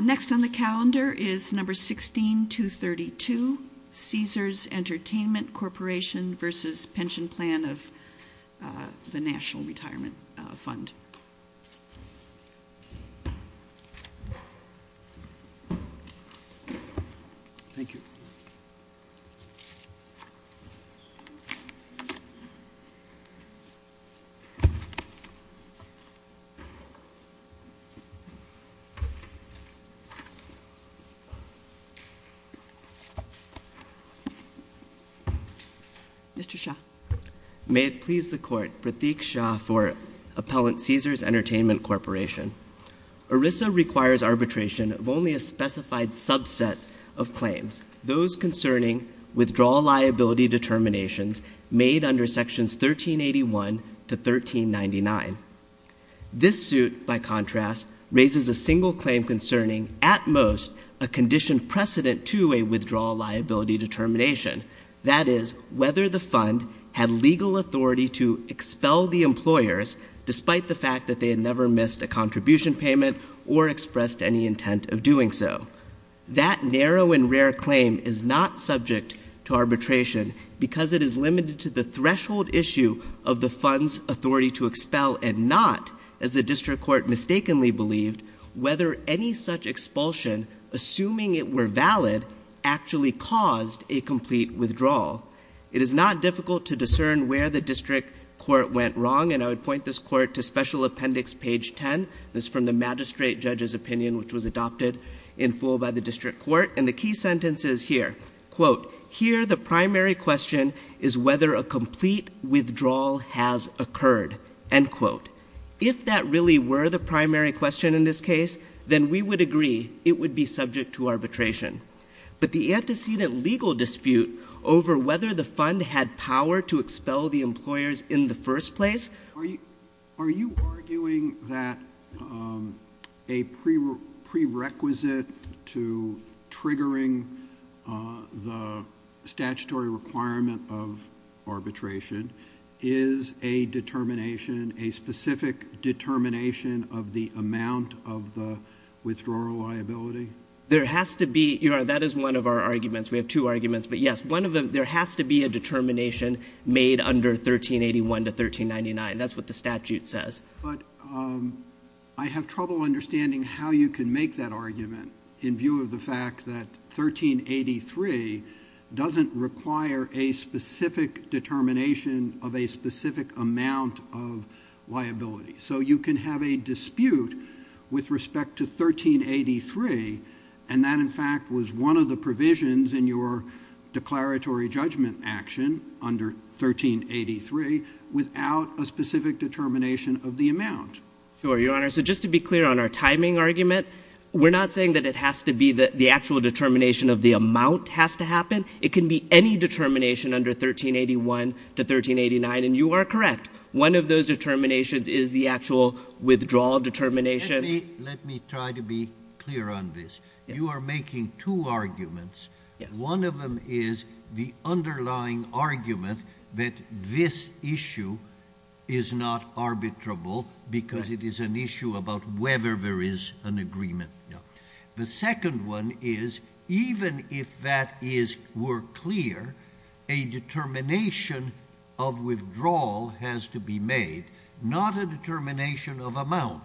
Next on the calendar is number 16232, Caesars Entertainment Corporation v. Pension Plan of the National Retirement Fund. Thank you. Mr. Shah. May it please the Court, Pratik Shah for Appellant Caesars Entertainment Corporation. ERISA requires arbitration of only a specified subset of claims, those concerning withdrawal liability determinations made under Sections 1381 to 1399. This suit, by contrast, raises a single claim concerning, at most, a condition precedent to a withdrawal liability determination, that is, whether the fund had legal authority to expel the employers despite the fact that they had never missed a contribution payment or expressed any intent of doing so. That narrow and rare claim is not subject to arbitration because it is limited to the threshold issue of the fund's authority to expel and not, as the District Court mistakenly believed, whether any such expulsion, assuming it were valid, actually caused a complete withdrawal. It is not difficult to discern where the District Court went wrong, and I would point this Court to Special Appendix page 10. This is from the Magistrate Judge's opinion, which was adopted in full by the District Court, and the key sentence is here. Quote, here the primary question is whether a complete withdrawal has occurred. End quote. If that really were the primary question in this case, then we would agree it would be subject to arbitration. But the antecedent legal dispute over whether the fund had power to expel the employers in the first place Are you arguing that a prerequisite to triggering the statutory requirement of arbitration is a determination, a specific determination of the amount of the withdrawal liability? There has to be. That is one of our arguments. We have two arguments. But yes, there has to be a determination made under 1381 to 1399. That's what the statute says. But I have trouble understanding how you can make that argument in view of the fact that 1383 doesn't require a specific determination of a specific amount of liability. So you can have a dispute with respect to 1383, and that, in fact, was one of the provisions in your declaratory judgment action under 1383 without a specific determination of the amount. Sure, Your Honor. So just to be clear on our timing argument, we're not saying that it has to be the actual determination of the amount has to happen. It can be any determination under 1381 to 1389, and you are correct. One of those determinations is the actual withdrawal determination. Let me try to be clear on this. You are making two arguments. One of them is the underlying argument that this issue is not arbitrable because it is an issue about whether there is an agreement. The second one is even if that is more clear, a determination of withdrawal has to be made, not a determination of amount,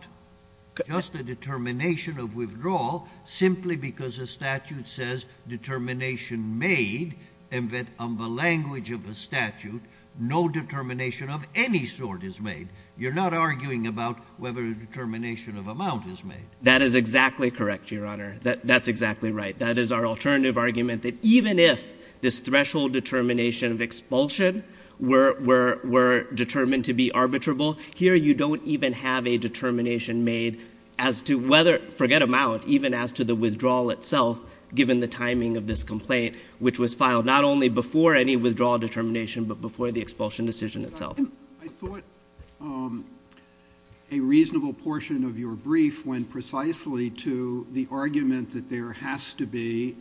just a determination of withdrawal simply because the statute says determination made and that on the language of the statute no determination of any sort is made. You're not arguing about whether a determination of amount is made. That is exactly correct, Your Honor. That's exactly right. That is our alternative argument that even if this threshold determination of expulsion were determined to be arbitrable, here you don't even have a determination made as to whether, forget amount, even as to the withdrawal itself given the timing of this complaint, which was filed not only before any withdrawal determination but before the expulsion decision itself. a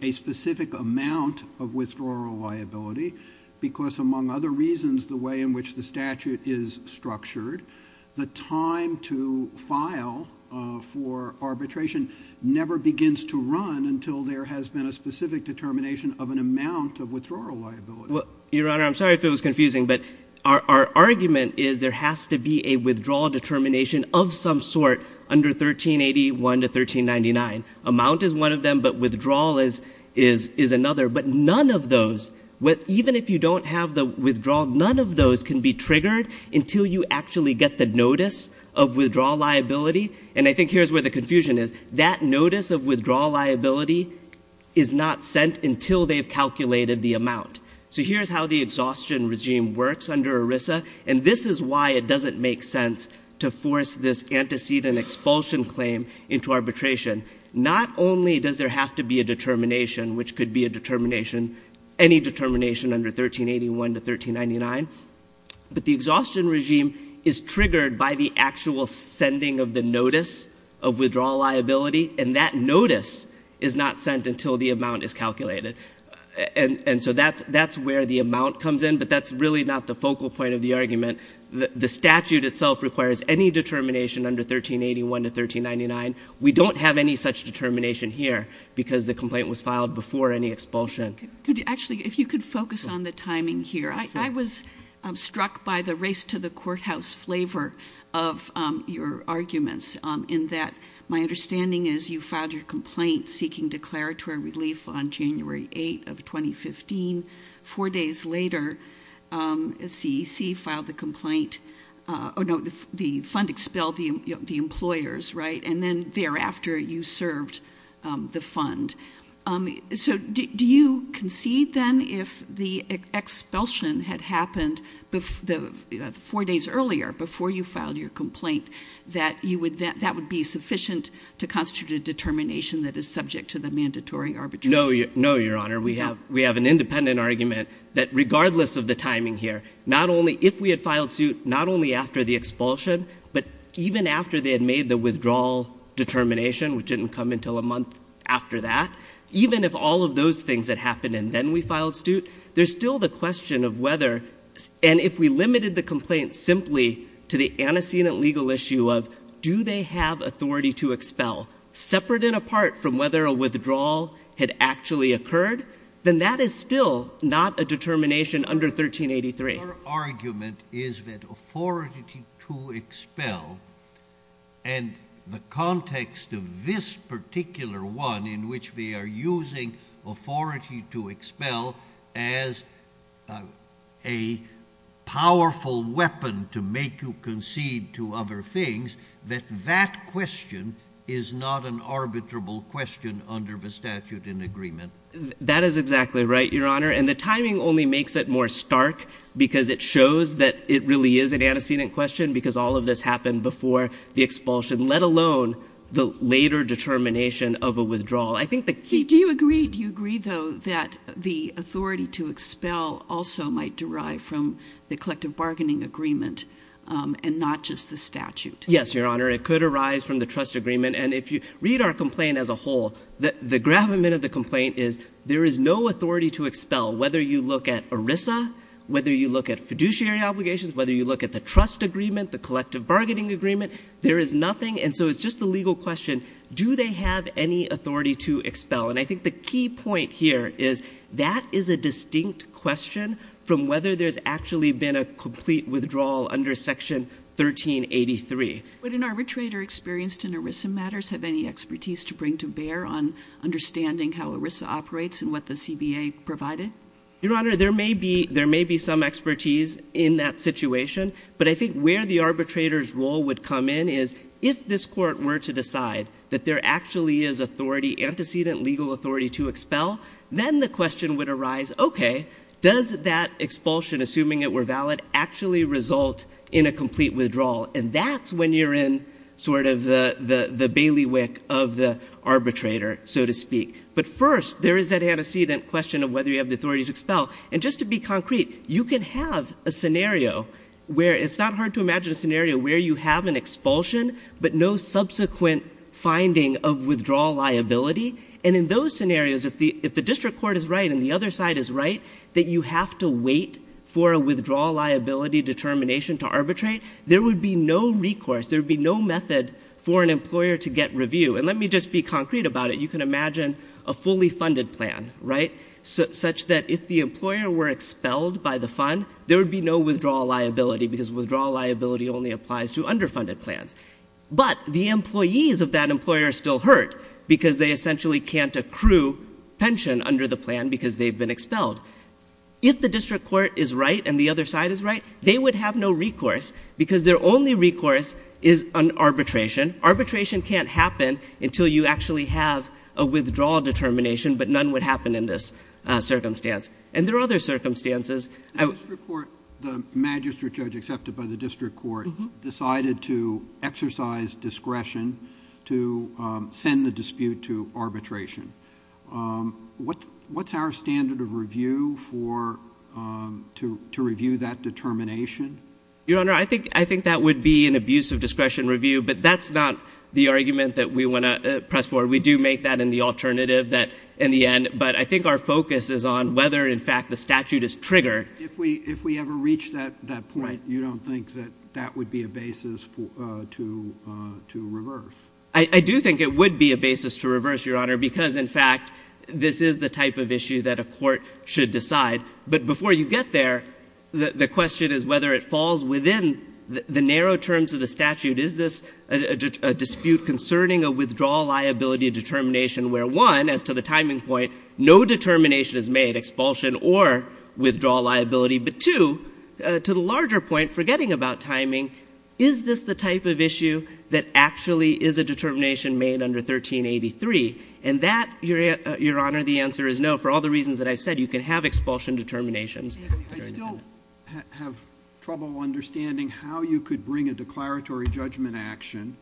specific amount of withdrawal liability because among other reasons the way in which the statute is structured, the time to file for arbitration never begins to run until there has been a specific determination of an amount of withdrawal liability. Your Honor, I'm sorry if it was confusing, but our argument is there has to be a withdrawal determination of some sort under 1381 to 1399. Amount is one of them, but withdrawal is another. But none of those, even if you don't have the withdrawal, none of those can be triggered until you actually get the notice of withdrawal liability. And I think here's where the confusion is. That notice of withdrawal liability is not sent until they've calculated the amount. So here's how the exhaustion regime works under ERISA, and this is why it doesn't make sense to force this antecedent expulsion claim into arbitration. Not only does there have to be a determination, which could be a determination, any determination under 1381 to 1399, but the exhaustion regime is triggered by the actual sending of the notice of withdrawal liability, and that notice is not sent until the amount is calculated. And so that's where the amount comes in, but that's really not the focal point of the argument. The statute itself requires any determination under 1381 to 1399. We don't have any such determination here because the complaint was filed before any expulsion. Actually, if you could focus on the timing here. I was struck by the race to the courthouse flavor of your arguments, in that my understanding is you filed your complaint seeking declaratory relief on January 8 of 2015. Four days later, CEC filed the complaint. Oh, no, the fund expelled the employers, right, and then thereafter you served the fund. So do you concede, then, if the expulsion had happened four days earlier, before you filed your complaint, that that would be sufficient to constitute a determination that is subject to the mandatory arbitration? No, Your Honor. We have an independent argument that regardless of the timing here, not only if we had filed suit not only after the expulsion, but even after they had made the withdrawal determination, which didn't come until a month after that, even if all of those things had happened and then we filed suit, there's still the question of whether, and if we limited the complaint simply to the antecedent legal issue of do they have authority to expel, separate and apart from whether a withdrawal had actually occurred, then that is still not a determination under 1383. Your argument is that authority to expel and the context of this particular one in which we are using authority to expel as a powerful weapon to make you concede to other things, that that question is not an arbitrable question under the statute in agreement. That is exactly right, Your Honor. And the timing only makes it more stark because it shows that it really is an antecedent question because all of this happened before the expulsion, let alone the later determination of a withdrawal. Do you agree, though, that the authority to expel also might derive from the collective bargaining agreement and not just the statute? Yes, Your Honor. It could arise from the trust agreement. And if you read our complaint as a whole, the gravamen of the complaint is there is no authority to expel, whether you look at ERISA, whether you look at fiduciary obligations, whether you look at the trust agreement, the collective bargaining agreement, there is nothing. And so it's just a legal question, do they have any authority to expel? And I think the key point here is that is a distinct question from whether there's actually been a complete withdrawal under Section 1383. Would an arbitrator experienced in ERISA matters have any expertise to bring to bear on understanding how ERISA operates and what the CBA provided? Your Honor, there may be some expertise in that situation, but I think where the arbitrator's role would come in is if this court were to decide that there actually is authority, antecedent legal authority to expel, then the question would arise, okay, does that expulsion, assuming it were valid, actually result in a complete withdrawal? And that's when you're in sort of the bailiwick of the arbitrator, so to speak. But first, there is that antecedent question of whether you have the authority to expel. And just to be concrete, you can have a scenario where it's not hard to imagine a scenario where you have an expulsion, but no subsequent finding of withdrawal liability. And in those scenarios, if the district court is right and the other side is right, that you have to wait for a withdrawal liability determination to arbitrate, there would be no recourse, there would be no method for an employer to get review. And let me just be concrete about it. You can imagine a fully funded plan, right, such that if the employer were expelled by the fund, there would be no withdrawal liability because withdrawal liability only applies to underfunded plans. But the employees of that employer are still hurt because they essentially can't accrue pension under the plan because they've been expelled. If the district court is right and the other side is right, they would have no recourse because their only recourse is an arbitration. Arbitration can't happen until you actually have a withdrawal determination, but none would happen in this circumstance. And there are other circumstances. The district court, the magistrate judge accepted by the district court, decided to exercise discretion to send the dispute to arbitration. What's our standard of review for to review that determination? Your Honor, I think that would be an abuse of discretion review, but that's not the argument that we want to press forward. We do make that in the alternative in the end. But I think our focus is on whether, in fact, the statute is triggered. If we ever reach that point, you don't think that that would be a basis to reverse? I do think it would be a basis to reverse, Your Honor, because, in fact, this is the type of issue that a court should decide. But before you get there, the question is whether it falls within the narrow terms of the statute. Is this a dispute concerning a withdrawal liability determination where, one, as to the timing point, no determination is made, expulsion or withdrawal liability? But, two, to the larger point, forgetting about timing, is this the type of issue that actually is a determination made under 1383? And that, Your Honor, the answer is no. For all the reasons that I've said, you can have expulsion determinations. I still have trouble understanding how you could bring a declaratory judgment action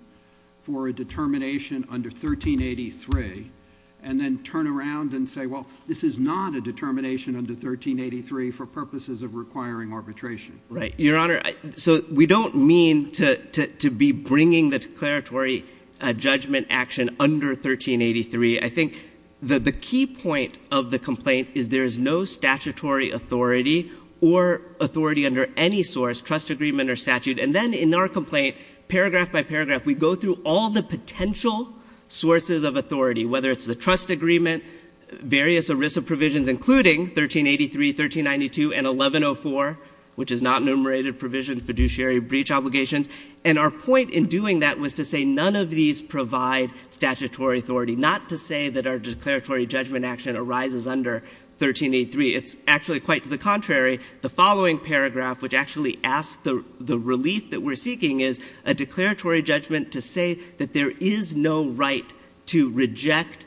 for a determination under 1383 and then turn around and say, well, this is not a determination under 1383 for purposes of requiring arbitration. Right. Your Honor, so we don't mean to be bringing the declaratory judgment action under 1383. I think the key point of the complaint is there is no statutory authority or authority under any source, trust agreement or statute. And then in our complaint, paragraph by paragraph, we go through all the potential sources of authority, whether it's the trust agreement, various ERISA provisions, including 1383, 1392, and 1104, which is not enumerated provision, fiduciary breach obligations. And our point in doing that was to say none of these provide statutory authority, not to say that our declaratory judgment action arises under 1383. It's actually quite to the contrary. The following paragraph, which actually asks the relief that we're seeking, is a declaratory judgment to say that there is no right to reject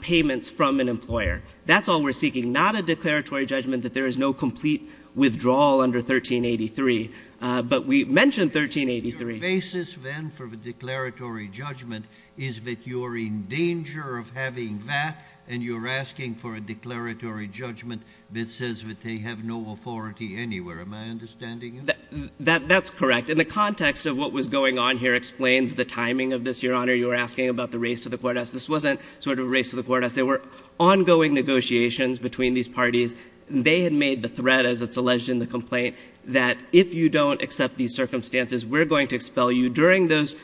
payments from an employer. That's all we're seeking, not a declaratory judgment that there is no complete withdrawal under 1383. But we mentioned 1383. Your basis, then, for the declaratory judgment is that you're in danger of having that, and you're asking for a declaratory judgment that says that they have no authority anywhere. Am I understanding you? That's correct. In the context of what was going on here explains the timing of this, Your Honor. You were asking about the race to the court house. This wasn't sort of a race to the court house. There were ongoing negotiations between these parties. They had made the threat, as it's alleged in the complaint, that if you don't accept these circumstances, we're going to expel you. During those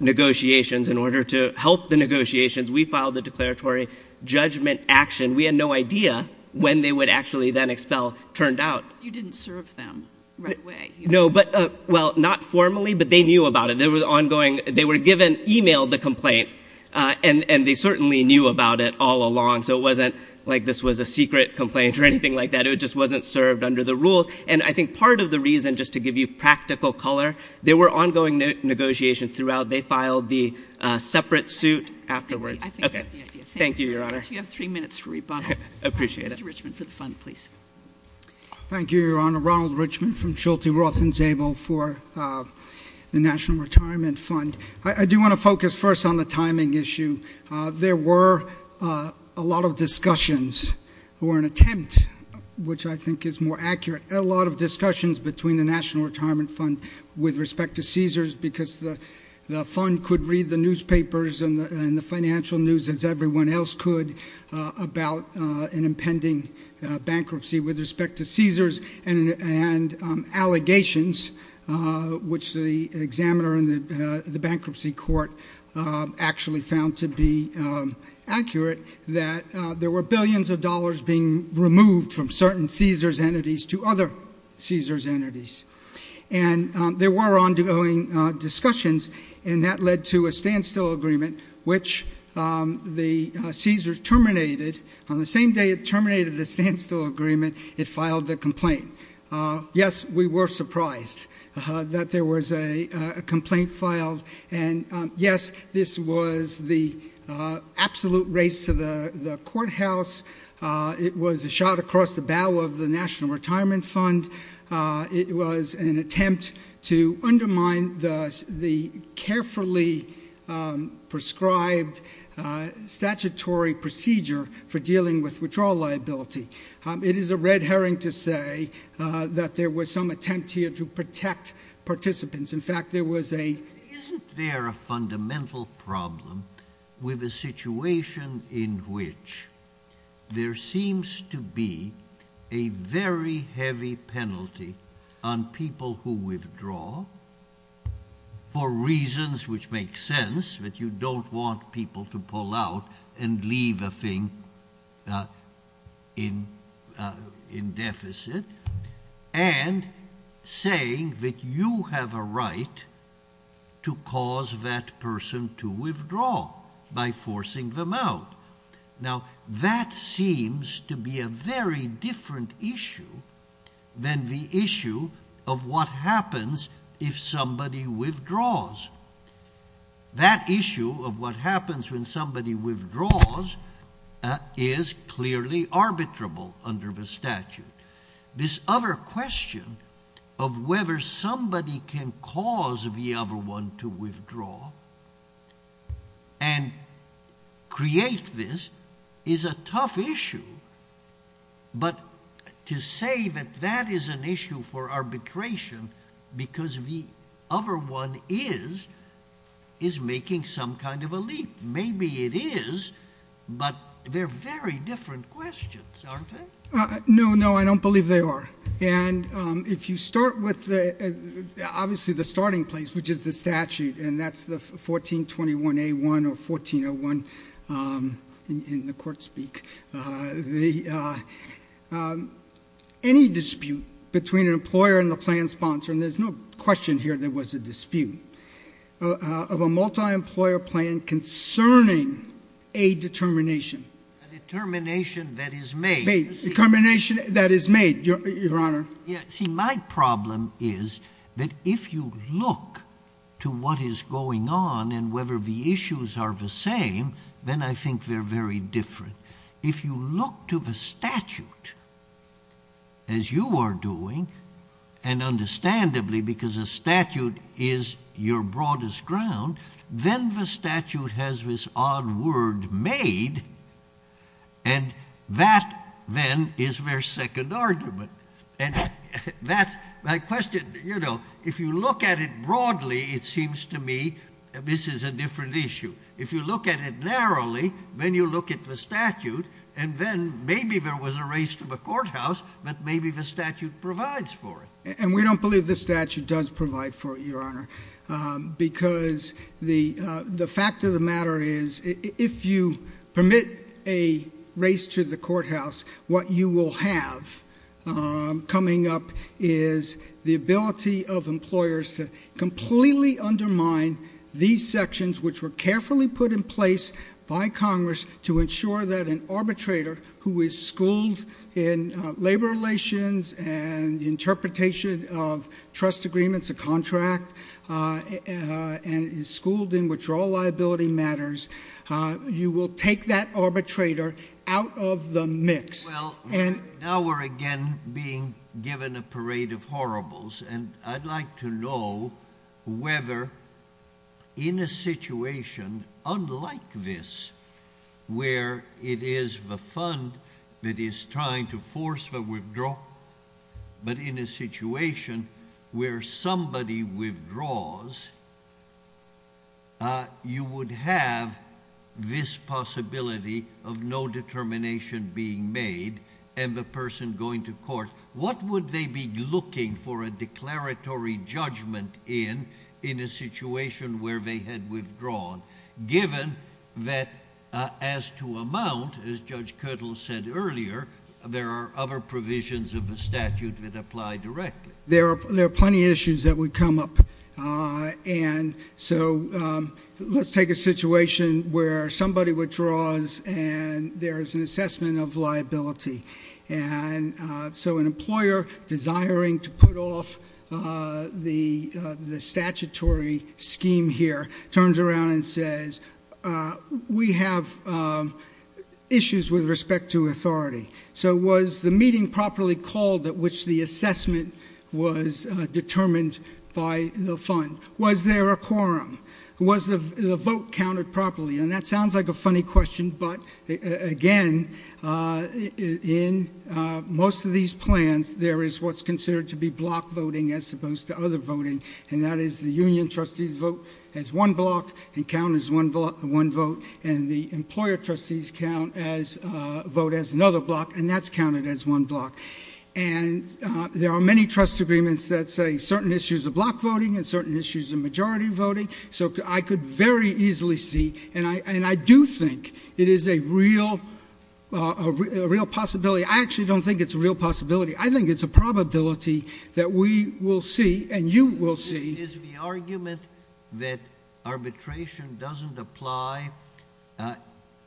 negotiations, in order to help the negotiations, we filed the declaratory judgment action. We had no idea when they would actually then expel turned out. You didn't serve them right away. No, but, well, not formally, but they knew about it. They were ongoing. They were given, emailed the complaint, and they certainly knew about it all along, so it wasn't like this was a secret complaint or anything like that. It just wasn't served under the rules, and I think part of the reason, just to give you practical color, there were ongoing negotiations throughout. They filed the separate suit afterwards. Okay. Thank you, Your Honor. You have three minutes for rebuttal. I appreciate it. Mr. Richmond for the fund, please. Thank you, Your Honor. Ronald Richmond from Schulte, Roth, and Zabel for the National Retirement Fund. I do want to focus first on the timing issue. There were a lot of discussions or an attempt, which I think is more accurate, a lot of discussions between the National Retirement Fund with respect to Caesars because the fund could read the newspapers and the financial news as everyone else could about an impending bankruptcy with respect to Caesars and allegations, which the examiner in the bankruptcy court actually found to be accurate, that there were billions of dollars being removed from certain Caesars entities to other Caesars entities. And there were ongoing discussions, and that led to a standstill agreement, which the Caesars terminated. On the same day it terminated the standstill agreement, it filed the complaint. Yes, we were surprised that there was a complaint filed. And, yes, this was the absolute race to the courthouse. It was a shot across the bow of the National Retirement Fund. It was an attempt to undermine the carefully prescribed statutory procedure for dealing with withdrawal liability. It is a red herring to say that there was some attempt here to protect participants. Isn't there a fundamental problem with a situation in which there seems to be a very heavy penalty on people who withdraw for reasons which make sense, that you don't want people to pull out and leave a thing in deficit, and saying that you have a right to cause that person to withdraw by forcing them out? Now, that seems to be a very different issue than the issue of what happens if somebody withdraws. That issue of what happens when somebody withdraws is clearly arbitrable under the statute. This other question of whether somebody can cause the other one to withdraw and create this is a tough issue. But to say that that is an issue for arbitration because the other one is, is making some kind of a leap. Maybe it is, but they're very different questions, aren't they? No, no, I don't believe they are. And if you start with, obviously, the starting place, which is the statute, and that's the 1421A1 or 1401 in the court speak. Any dispute between an employer and the plan sponsor, and there's no question here there was a dispute, of a multi-employer plan concerning a determination. A determination that is made. A determination that is made, Your Honor. See, my problem is that if you look to what is going on and whether the issues are the same, then I think they're very different. If you look to the statute, as you are doing, and understandably because a statute is your broadest ground, then the statute has this odd word made, and that then is their second argument. And that's my question, you know, if you look at it broadly, it seems to me this is a different issue. If you look at it narrowly, then you look at the statute, and then maybe there was a race to the courthouse, but maybe the statute provides for it. And we don't believe the statute does provide for it, Your Honor, because the fact of the matter is if you permit a race to the courthouse, what you will have coming up is the ability of employers to completely undermine these sections, which were carefully put in place by Congress to ensure that an arbitrator who is schooled in labor relations and interpretation of trust agreements, a contract, and is schooled in withdrawal liability matters, you will take that arbitrator out of the mix. Well, now we're again being given a parade of horribles, and I'd like to know whether in a situation unlike this, where it is the fund that is trying to force the withdrawal, but in a situation where somebody withdraws, you would have this possibility of no determination being made and the person going to court. What would they be looking for a declaratory judgment in in a situation where they had withdrawn, given that as to amount, as Judge Kirtle said earlier, there are other provisions of the statute that apply directly? There are plenty of issues that would come up. And so let's take a situation where somebody withdraws and there is an assessment of liability. And so an employer desiring to put off the statutory scheme here turns around and says, we have issues with respect to authority. So was the meeting properly called at which the assessment was determined by the fund? Was there a quorum? Was the vote counted properly? And that sounds like a funny question, but again, in most of these plans, there is what's considered to be block voting as opposed to other voting, and that is the union trustees vote as one block and count as one vote, and the employer trustees count as vote as another block, and that's counted as one block. And there are many trust agreements that say certain issues are block voting and certain issues are majority voting. So I could very easily see, and I do think it is a real possibility. I actually don't think it's a real possibility. I think it's a probability that we will see and you will see. It is the argument that arbitration doesn't apply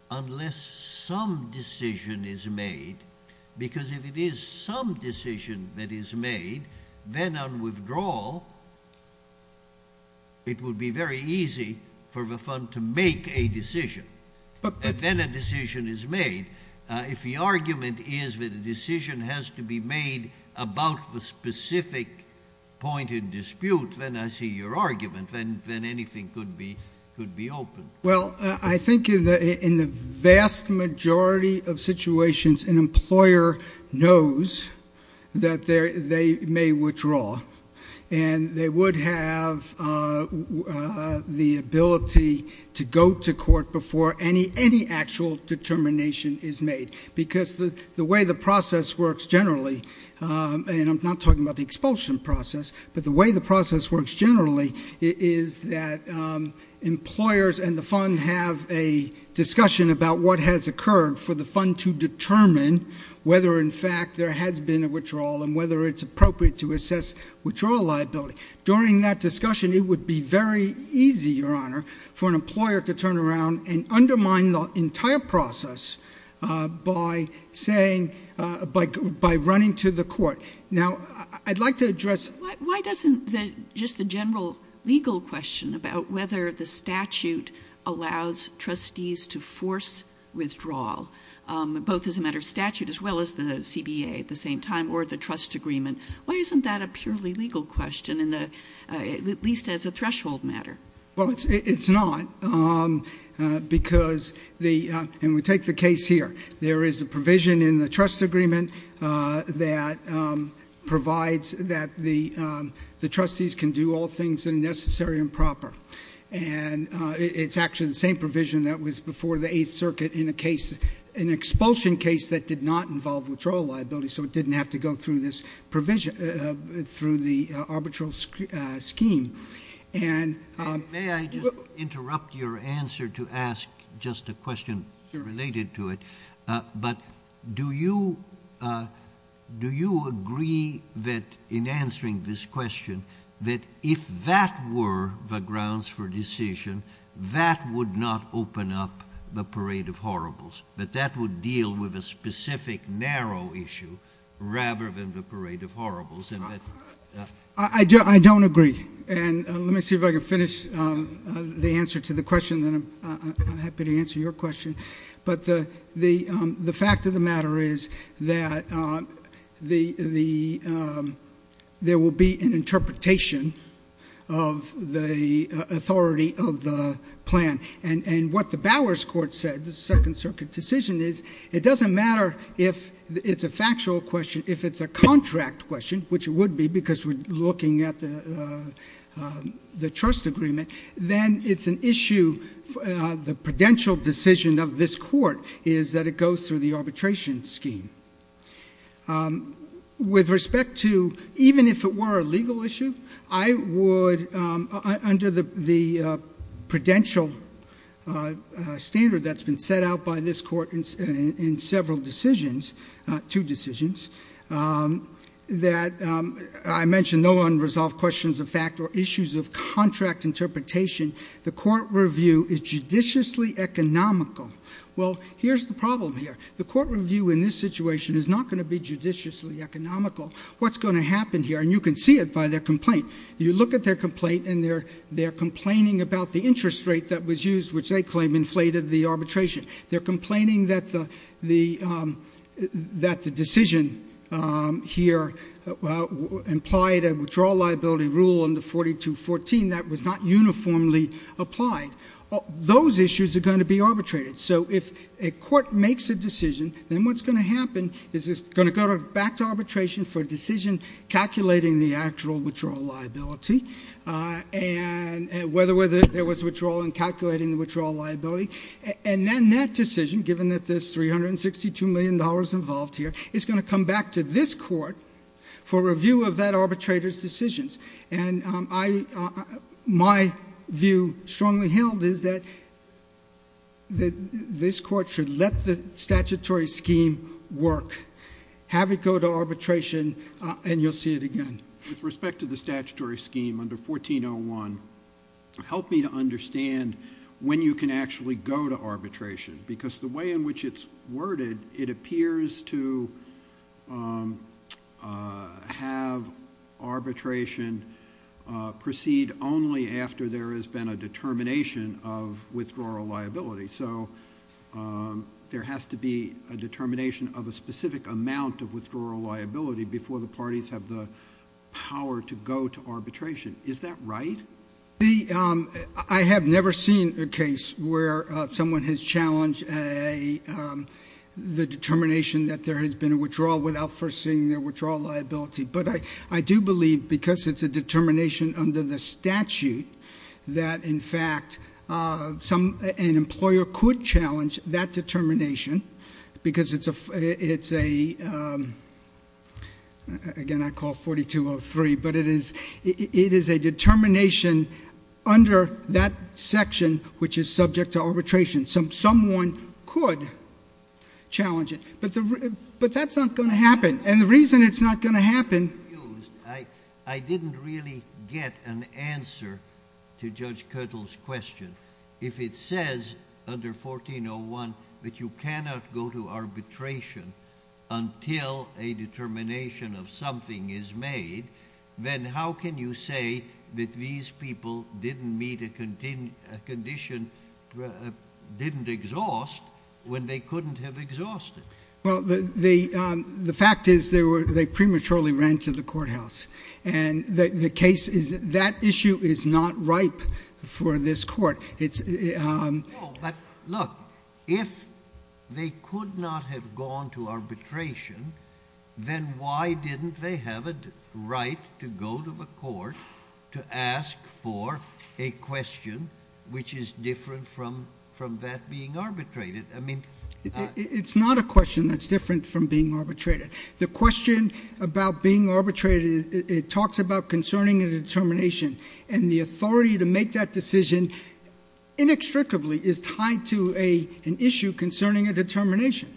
unless some decision is made, because if it is some decision that is made, then on withdrawal, it would be very easy for the fund to make a decision. But then a decision is made. If the argument is that a decision has to be made about the specific point in dispute, then I see your argument, then anything could be opened. Well, I think in the vast majority of situations, an employer knows that they may withdraw, and they would have the ability to go to court before any actual determination is made, because the way the process works generally, and I'm not talking about the expulsion process, but the way the process works generally is that employers and the fund have a discussion about what has occurred for the fund to determine whether, in fact, there has been a withdrawal and whether it's appropriate to assess withdrawal liability. During that discussion, it would be very easy, Your Honor, for an employer to turn around and undermine the entire process by saying, by running to the court. Now I'd like to address Why doesn't just the general legal question about whether the statute allows trustees to force withdrawal, both as a matter of statute as well as the CBA at the same time, or the trust agreement, why isn't that a purely legal question, at least as a threshold matter? Well, it's not, because the, and we take the case here. There is a provision in the trust agreement that provides that the trustees can do all things necessary and proper. And it's actually the same provision that was before the Eighth Circuit in a case, an expulsion case that did not involve withdrawal liability, so it didn't have to go through this provision, through the arbitral scheme. May I just interrupt your answer to ask just a question related to it? But do you agree that in answering this question, that if that were the grounds for decision, that would not open up the parade of horribles, that that would deal with a specific narrow issue rather than the parade of horribles? I don't agree. And let me see if I can finish the answer to the question, then I'm happy to answer your question. But the fact of the matter is that there will be an interpretation of the authority of the plan. And what the Bowers court said, the Second Circuit decision, is it doesn't matter if it's a factual question, if it's a contract question, which it would be because we're looking at the trust agreement, then it's an issue, the prudential decision of this court is that it goes through the arbitration scheme. With respect to, even if it were a legal issue, I would, under the prudential standard that's been set out by this court in several decisions, two decisions, that I mentioned no unresolved questions of fact or issues of contract interpretation. The court review is judiciously economical. Well, here's the problem here. The court review in this situation is not going to be judiciously economical. What's going to happen here, and you can see it by their complaint, you look at their complaint and they're complaining about the interest rate that was used, which they claim inflated the arbitration. They're complaining that the decision here implied a withdrawal liability rule under 4214 that was not uniformly applied. Those issues are going to be arbitrated. So if a court makes a decision, then what's going to happen is it's going to go back to arbitration for a decision calculating the actual withdrawal liability and whether there was withdrawal and calculating the withdrawal liability. And then that decision, given that there's $362 million involved here, is going to come back to this court for review of that arbitrator's decisions. And my view strongly held is that this court should let the statutory scheme work, have it go to arbitration, and you'll see it again. With respect to the statutory scheme under 1401, help me to understand when you can actually go to arbitration because the way in which it's worded, it appears to have arbitration proceed only after there has been a determination of withdrawal liability. So there has to be a determination of a specific amount of withdrawal liability before the parties have the power to go to arbitration. Is that right? I have never seen a case where someone has challenged the determination that there has been a withdrawal without foreseeing their withdrawal liability. But I do believe because it's a determination under the statute that, in fact, an employer could challenge that determination because it's a, again, I call 4203, but it is a determination under that section which is subject to arbitration. Someone could challenge it, but that's not going to happen. And the reason it's not going to happen— I didn't really get an answer to Judge Kirtle's question. If it says under 1401 that you cannot go to arbitration until a determination of something is made, then how can you say that these people didn't meet a condition, didn't exhaust when they couldn't have exhausted? Well, the fact is they prematurely ran to the courthouse. And the case is that issue is not ripe for this court. It's— No, but look, if they could not have gone to arbitration, then why didn't they have a right to go to the court to ask for a question which is different from that being arbitrated? I mean— It's not a question that's different from being arbitrated. The question about being arbitrated, it talks about concerning a determination. And the authority to make that decision inextricably is tied to an issue concerning a determination.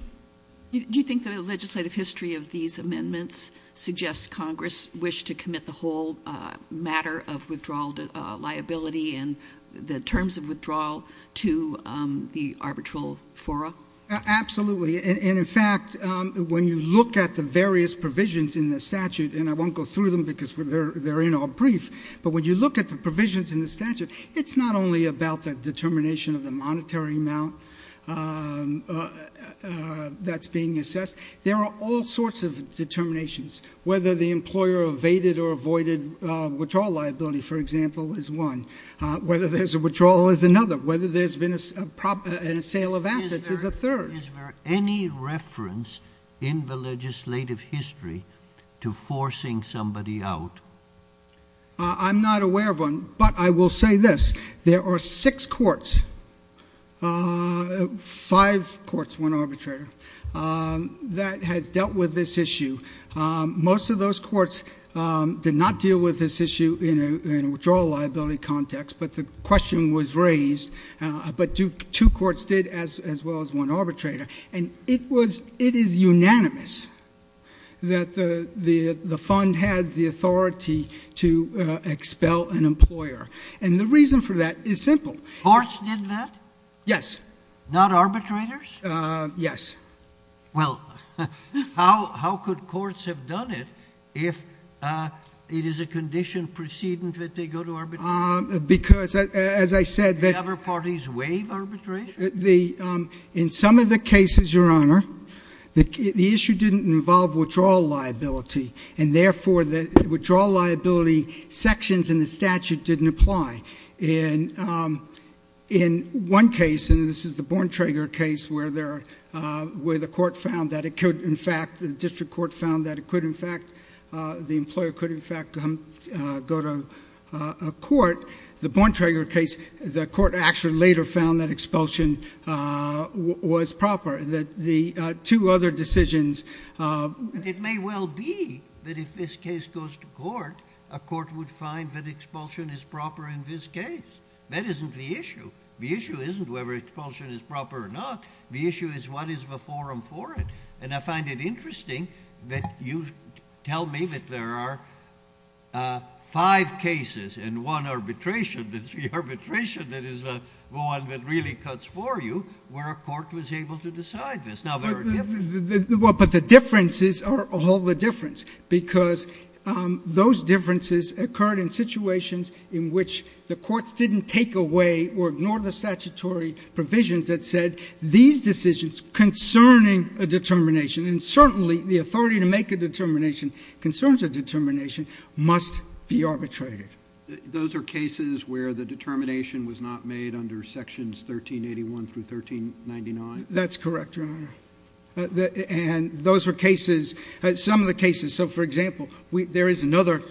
Do you think the legislative history of these amendments suggests Congress wished to commit the whole matter of withdrawal liability and the terms of withdrawal to the arbitral fora? Absolutely. And, in fact, when you look at the various provisions in the statute, and I won't go through them because they're in our brief, but when you look at the provisions in the statute, it's not only about the determination of the monetary amount that's being assessed. There are all sorts of determinations, whether the employer evaded or avoided withdrawal liability, for example, is one. Whether there's a withdrawal is another. Whether there's been a sale of assets is a third. Is there any reference in the legislative history to forcing somebody out? I'm not aware of one, but I will say this. There are six courts, five courts, one arbitrator, that has dealt with this issue. Most of those courts did not deal with this issue in a withdrawal liability context, but the question was raised. But two courts did as well as one arbitrator, and it is unanimous that the fund has the authority to expel an employer. And the reason for that is simple. Courts did that? Yes. Not arbitrators? Yes. Well, how could courts have done it if it is a condition preceding that they go to arbitration? Because, as I said, the— Did other parties waive arbitration? In some of the cases, Your Honor, the issue didn't involve withdrawal liability, and therefore the withdrawal liability sections in the statute didn't apply. In one case, and this is the Bontrager case, where the court found that it could, in fact—the district court found that it could, in fact—the employer could, in fact, go to a court. The Bontrager case, the court actually later found that expulsion was proper. Two other decisions— It may well be that if this case goes to court, a court would find that expulsion is proper in this case. That isn't the issue. The issue isn't whether expulsion is proper or not. The issue is what is the forum for it. And I find it interesting that you tell me that there are five cases and one arbitration, the arbitration that is the one that really cuts for you, where a court was able to decide this. Now, there are differences. Well, but the differences are all the difference, because those differences occurred in situations in which the courts didn't take away or ignore the statutory provisions that said these decisions concerning a determination, and certainly the authority to make a determination concerns a determination, must be arbitrated. Those are cases where the determination was not made under Sections 1381 through 1399? That's correct, Your Honor. And those are cases—some of the cases. So, for example, there is another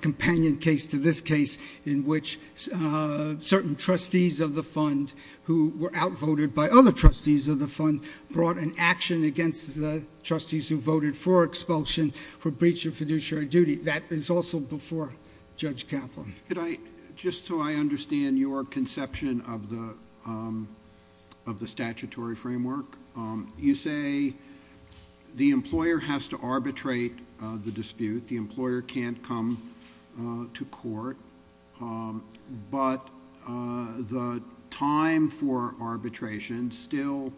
companion case to this case in which certain trustees of the fund who were outvoted by other trustees of the fund brought an action against the trustees who voted for expulsion for breach of fiduciary duty. That is also before Judge Kaplan. Could I—just so I understand your conception of the statutory framework, you say the employer has to arbitrate the dispute. The employer can't come to court, but the time for arbitration still,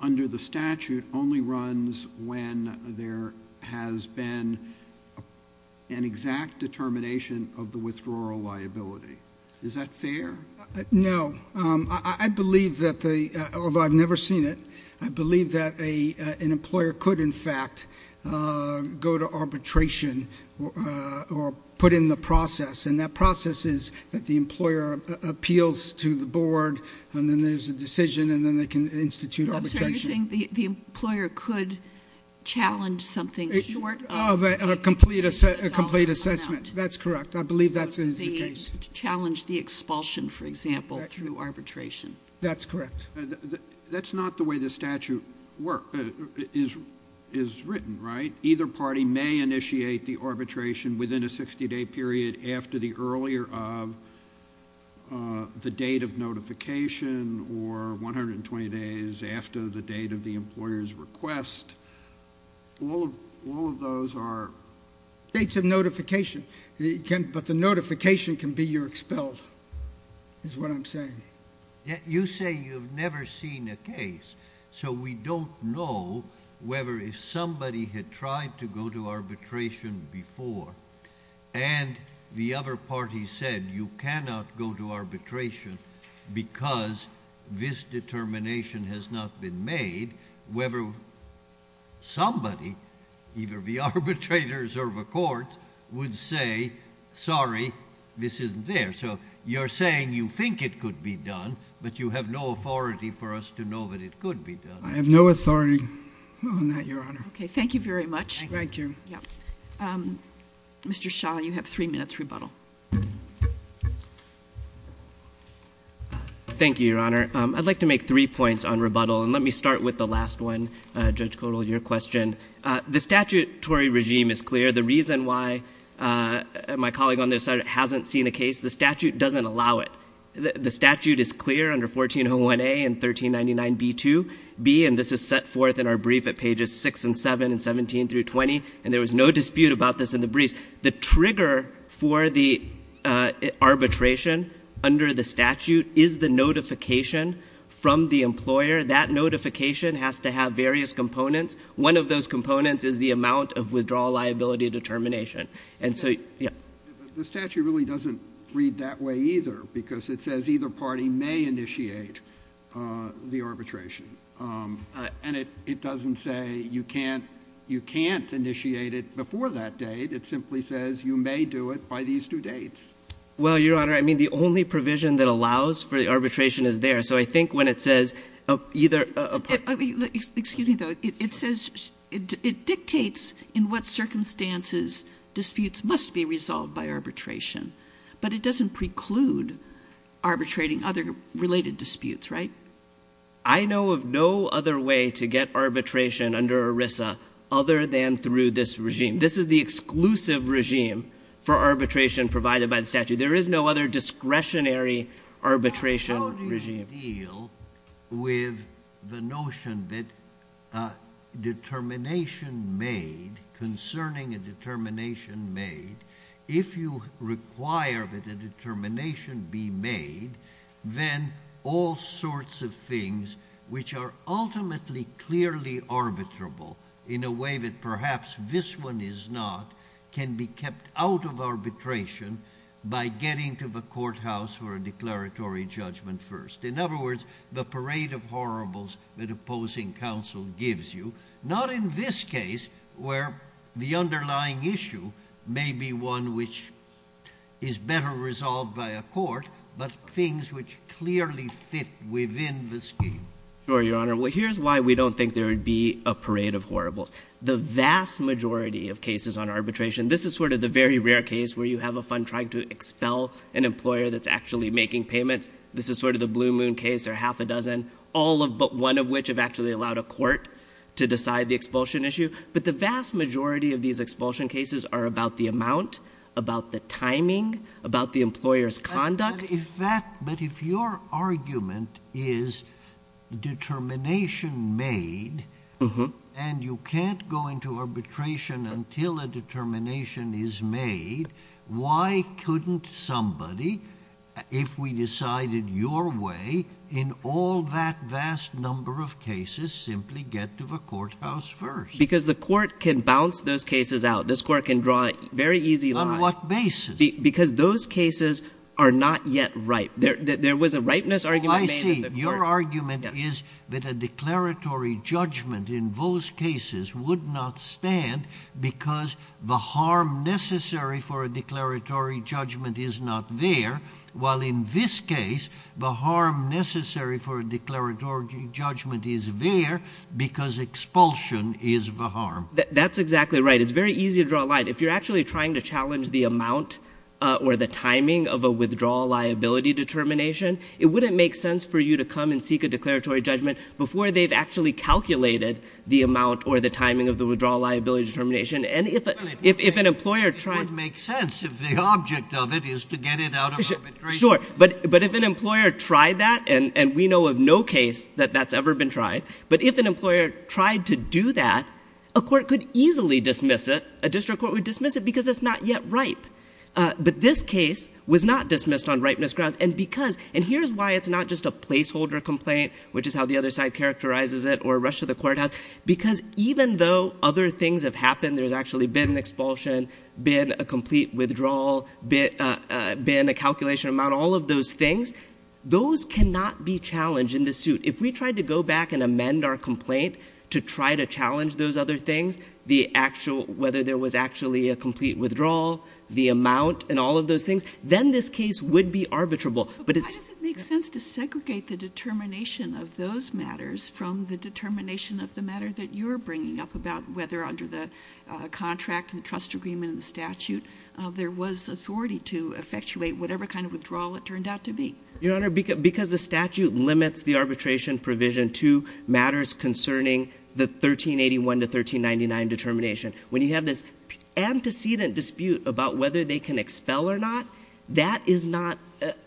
under the statute, only runs when there has been an exact determination of the withdrawal liability. Is that fair? No. I believe that the—although I've never seen it—I believe that an employer could, in fact, go to arbitration or put in the process, and that process is that the employer appeals to the board, and then there's a decision, and then they can institute arbitration. I'm sorry. You're saying the employer could challenge something short of— A complete assessment. That's correct. I believe that is the case. To challenge the expulsion, for example, through arbitration. That's correct. That's not the way the statute is written, right? Either party may initiate the arbitration within a 60-day period after the earlier of the date of notification or 120 days after the date of the employer's request. All of those are— But the notification can be you're expelled, is what I'm saying. You say you've never seen a case, so we don't know whether if somebody had tried to go to arbitration before, and the other party said you cannot go to arbitration because this determination has not been made, whether somebody, either the arbitrators or the courts, would say, sorry, this isn't there. So you're saying you think it could be done, but you have no authority for us to know that it could be done. I have no authority on that, Your Honor. Okay. Thank you very much. Thank you. Mr. Shah, you have three minutes rebuttal. Thank you, Your Honor. I'd like to make three points on rebuttal, and let me start with the last one, Judge Kotel, your question. The statutory regime is clear. The reason why my colleague on this side hasn't seen a case, the statute doesn't allow it. The statute is clear under 1401A and 1399B2B, and this is set forth in our brief at pages 6 and 7 and 17 through 20, and there was no dispute about this in the briefs. The trigger for the arbitration under the statute is the notification from the employer. That notification has to have various components. One of those components is the amount of withdrawal liability determination. And so, yeah. The statute really doesn't read that way either, because it says either party may initiate the arbitration. And it doesn't say you can't initiate it before that date. It simply says you may do it by these two dates. Well, Your Honor, I mean, the only provision that allows for the arbitration is there. So I think when it says either a party. Excuse me, though. It says it dictates in what circumstances disputes must be resolved by arbitration. But it doesn't preclude arbitrating other related disputes, right? I know of no other way to get arbitration under ERISA other than through this regime. This is the exclusive regime for arbitration provided by the statute. There is no other discretionary arbitration regime. How do you deal with the notion that determination made, concerning a determination made, if you require that a determination be made, then all sorts of things which are ultimately clearly arbitrable in a way that perhaps this one is not can be kept out of arbitration by getting to the courthouse for a declaratory judgment first. In other words, the parade of horribles that opposing counsel gives you, not in this case where the underlying issue may be one which is better resolved by a court, but things which clearly fit within the scheme. Sure, Your Honor. Well, here's why we don't think there would be a parade of horribles. The vast majority of cases on arbitration, this is sort of the very rare case where you have a fund trying to expel an employer that's actually making payments. This is sort of the blue moon case or half a dozen, all but one of which have actually allowed a court to decide the expulsion issue. But the vast majority of these expulsion cases are about the amount, about the timing, about the employer's conduct. But if your argument is determination made and you can't go into arbitration until a determination is made, why couldn't somebody, if we decided your way, in all that vast number of cases simply get to the courthouse first? Because the court can bounce those cases out. This court can draw a very easy line. On what basis? Because those cases are not yet ripe. There was a ripeness argument. Oh, I see. Your argument is that a declaratory judgment in those cases would not stand because the harm necessary for a declaratory judgment is not there, while in this case the harm necessary for a declaratory judgment is there because expulsion is the harm. It's very easy to draw a line. If you're actually trying to challenge the amount or the timing of a withdrawal liability determination, it wouldn't make sense for you to come and seek a declaratory judgment before they've actually calculated the amount or the timing of the withdrawal liability determination. And if an employer tried— It would make sense if the object of it is to get it out of arbitration. Sure. But if an employer tried that, and we know of no case that that's ever been tried, but if an employer tried to do that, a court could easily dismiss it. A district court would dismiss it because it's not yet ripe. But this case was not dismissed on ripeness grounds. And here's why it's not just a placeholder complaint, which is how the other side characterizes it, or a rush to the courthouse, because even though other things have happened, there's actually been an expulsion, been a complete withdrawal, been a calculation amount, all of those things, those cannot be challenged in this suit. If we tried to go back and amend our complaint to try to challenge those other things, whether there was actually a complete withdrawal, the amount, and all of those things, then this case would be arbitrable. But why does it make sense to segregate the determination of those matters from the determination of the matter that you're bringing up about whether under the contract and the trust agreement and the statute there was authority to effectuate whatever kind of withdrawal it turned out to be? Your Honor, because the statute limits the arbitration provision to matters concerning the 1381 to 1399 determination, when you have this antecedent dispute about whether they can expel or not, that is not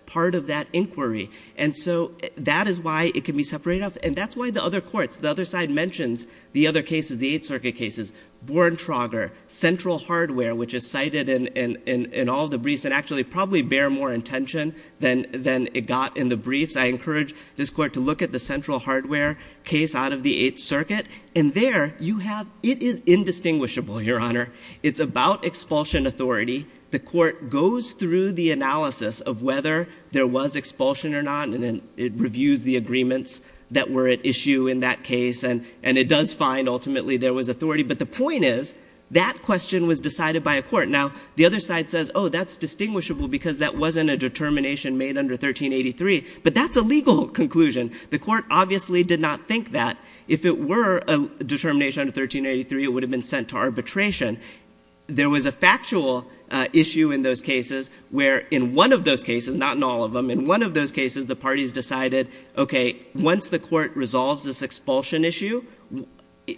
part of that inquiry. And so that is why it can be separated off. And that's why the other courts, the other side mentions the other cases, the Eighth Circuit cases, Boren Trauger, Central Hardware, which is cited in all the briefs and actually probably bear more intention than it got in the briefs. I encourage this Court to look at the Central Hardware case out of the Eighth Circuit. And there you have, it is indistinguishable, Your Honor. It's about expulsion authority. The Court goes through the analysis of whether there was expulsion or not, and it reviews the agreements that were at issue in that case, and it does find ultimately there was authority. But the point is that question was decided by a court. Now, the other side says, oh, that's distinguishable because that wasn't a determination made under 1383. But that's a legal conclusion. The Court obviously did not think that. If it were a determination under 1383, it would have been sent to arbitration. There was a factual issue in those cases where in one of those cases, not in all of them, in one of those cases the parties decided, okay, once the Court resolves this expulsion issue,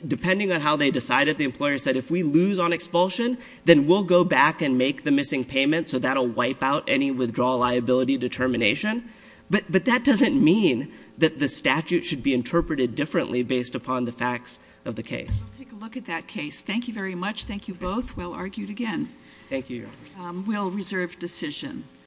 depending on how they decided, the employer said, if we lose on expulsion, then we'll go back and make the missing payment so that will wipe out any withdrawal liability determination. But that doesn't mean that the statute should be interpreted differently based upon the facts of the case. I'll take a look at that case. Thank you very much. Thank you both. We'll argue it again. Thank you, Your Honor. We'll reserve decision.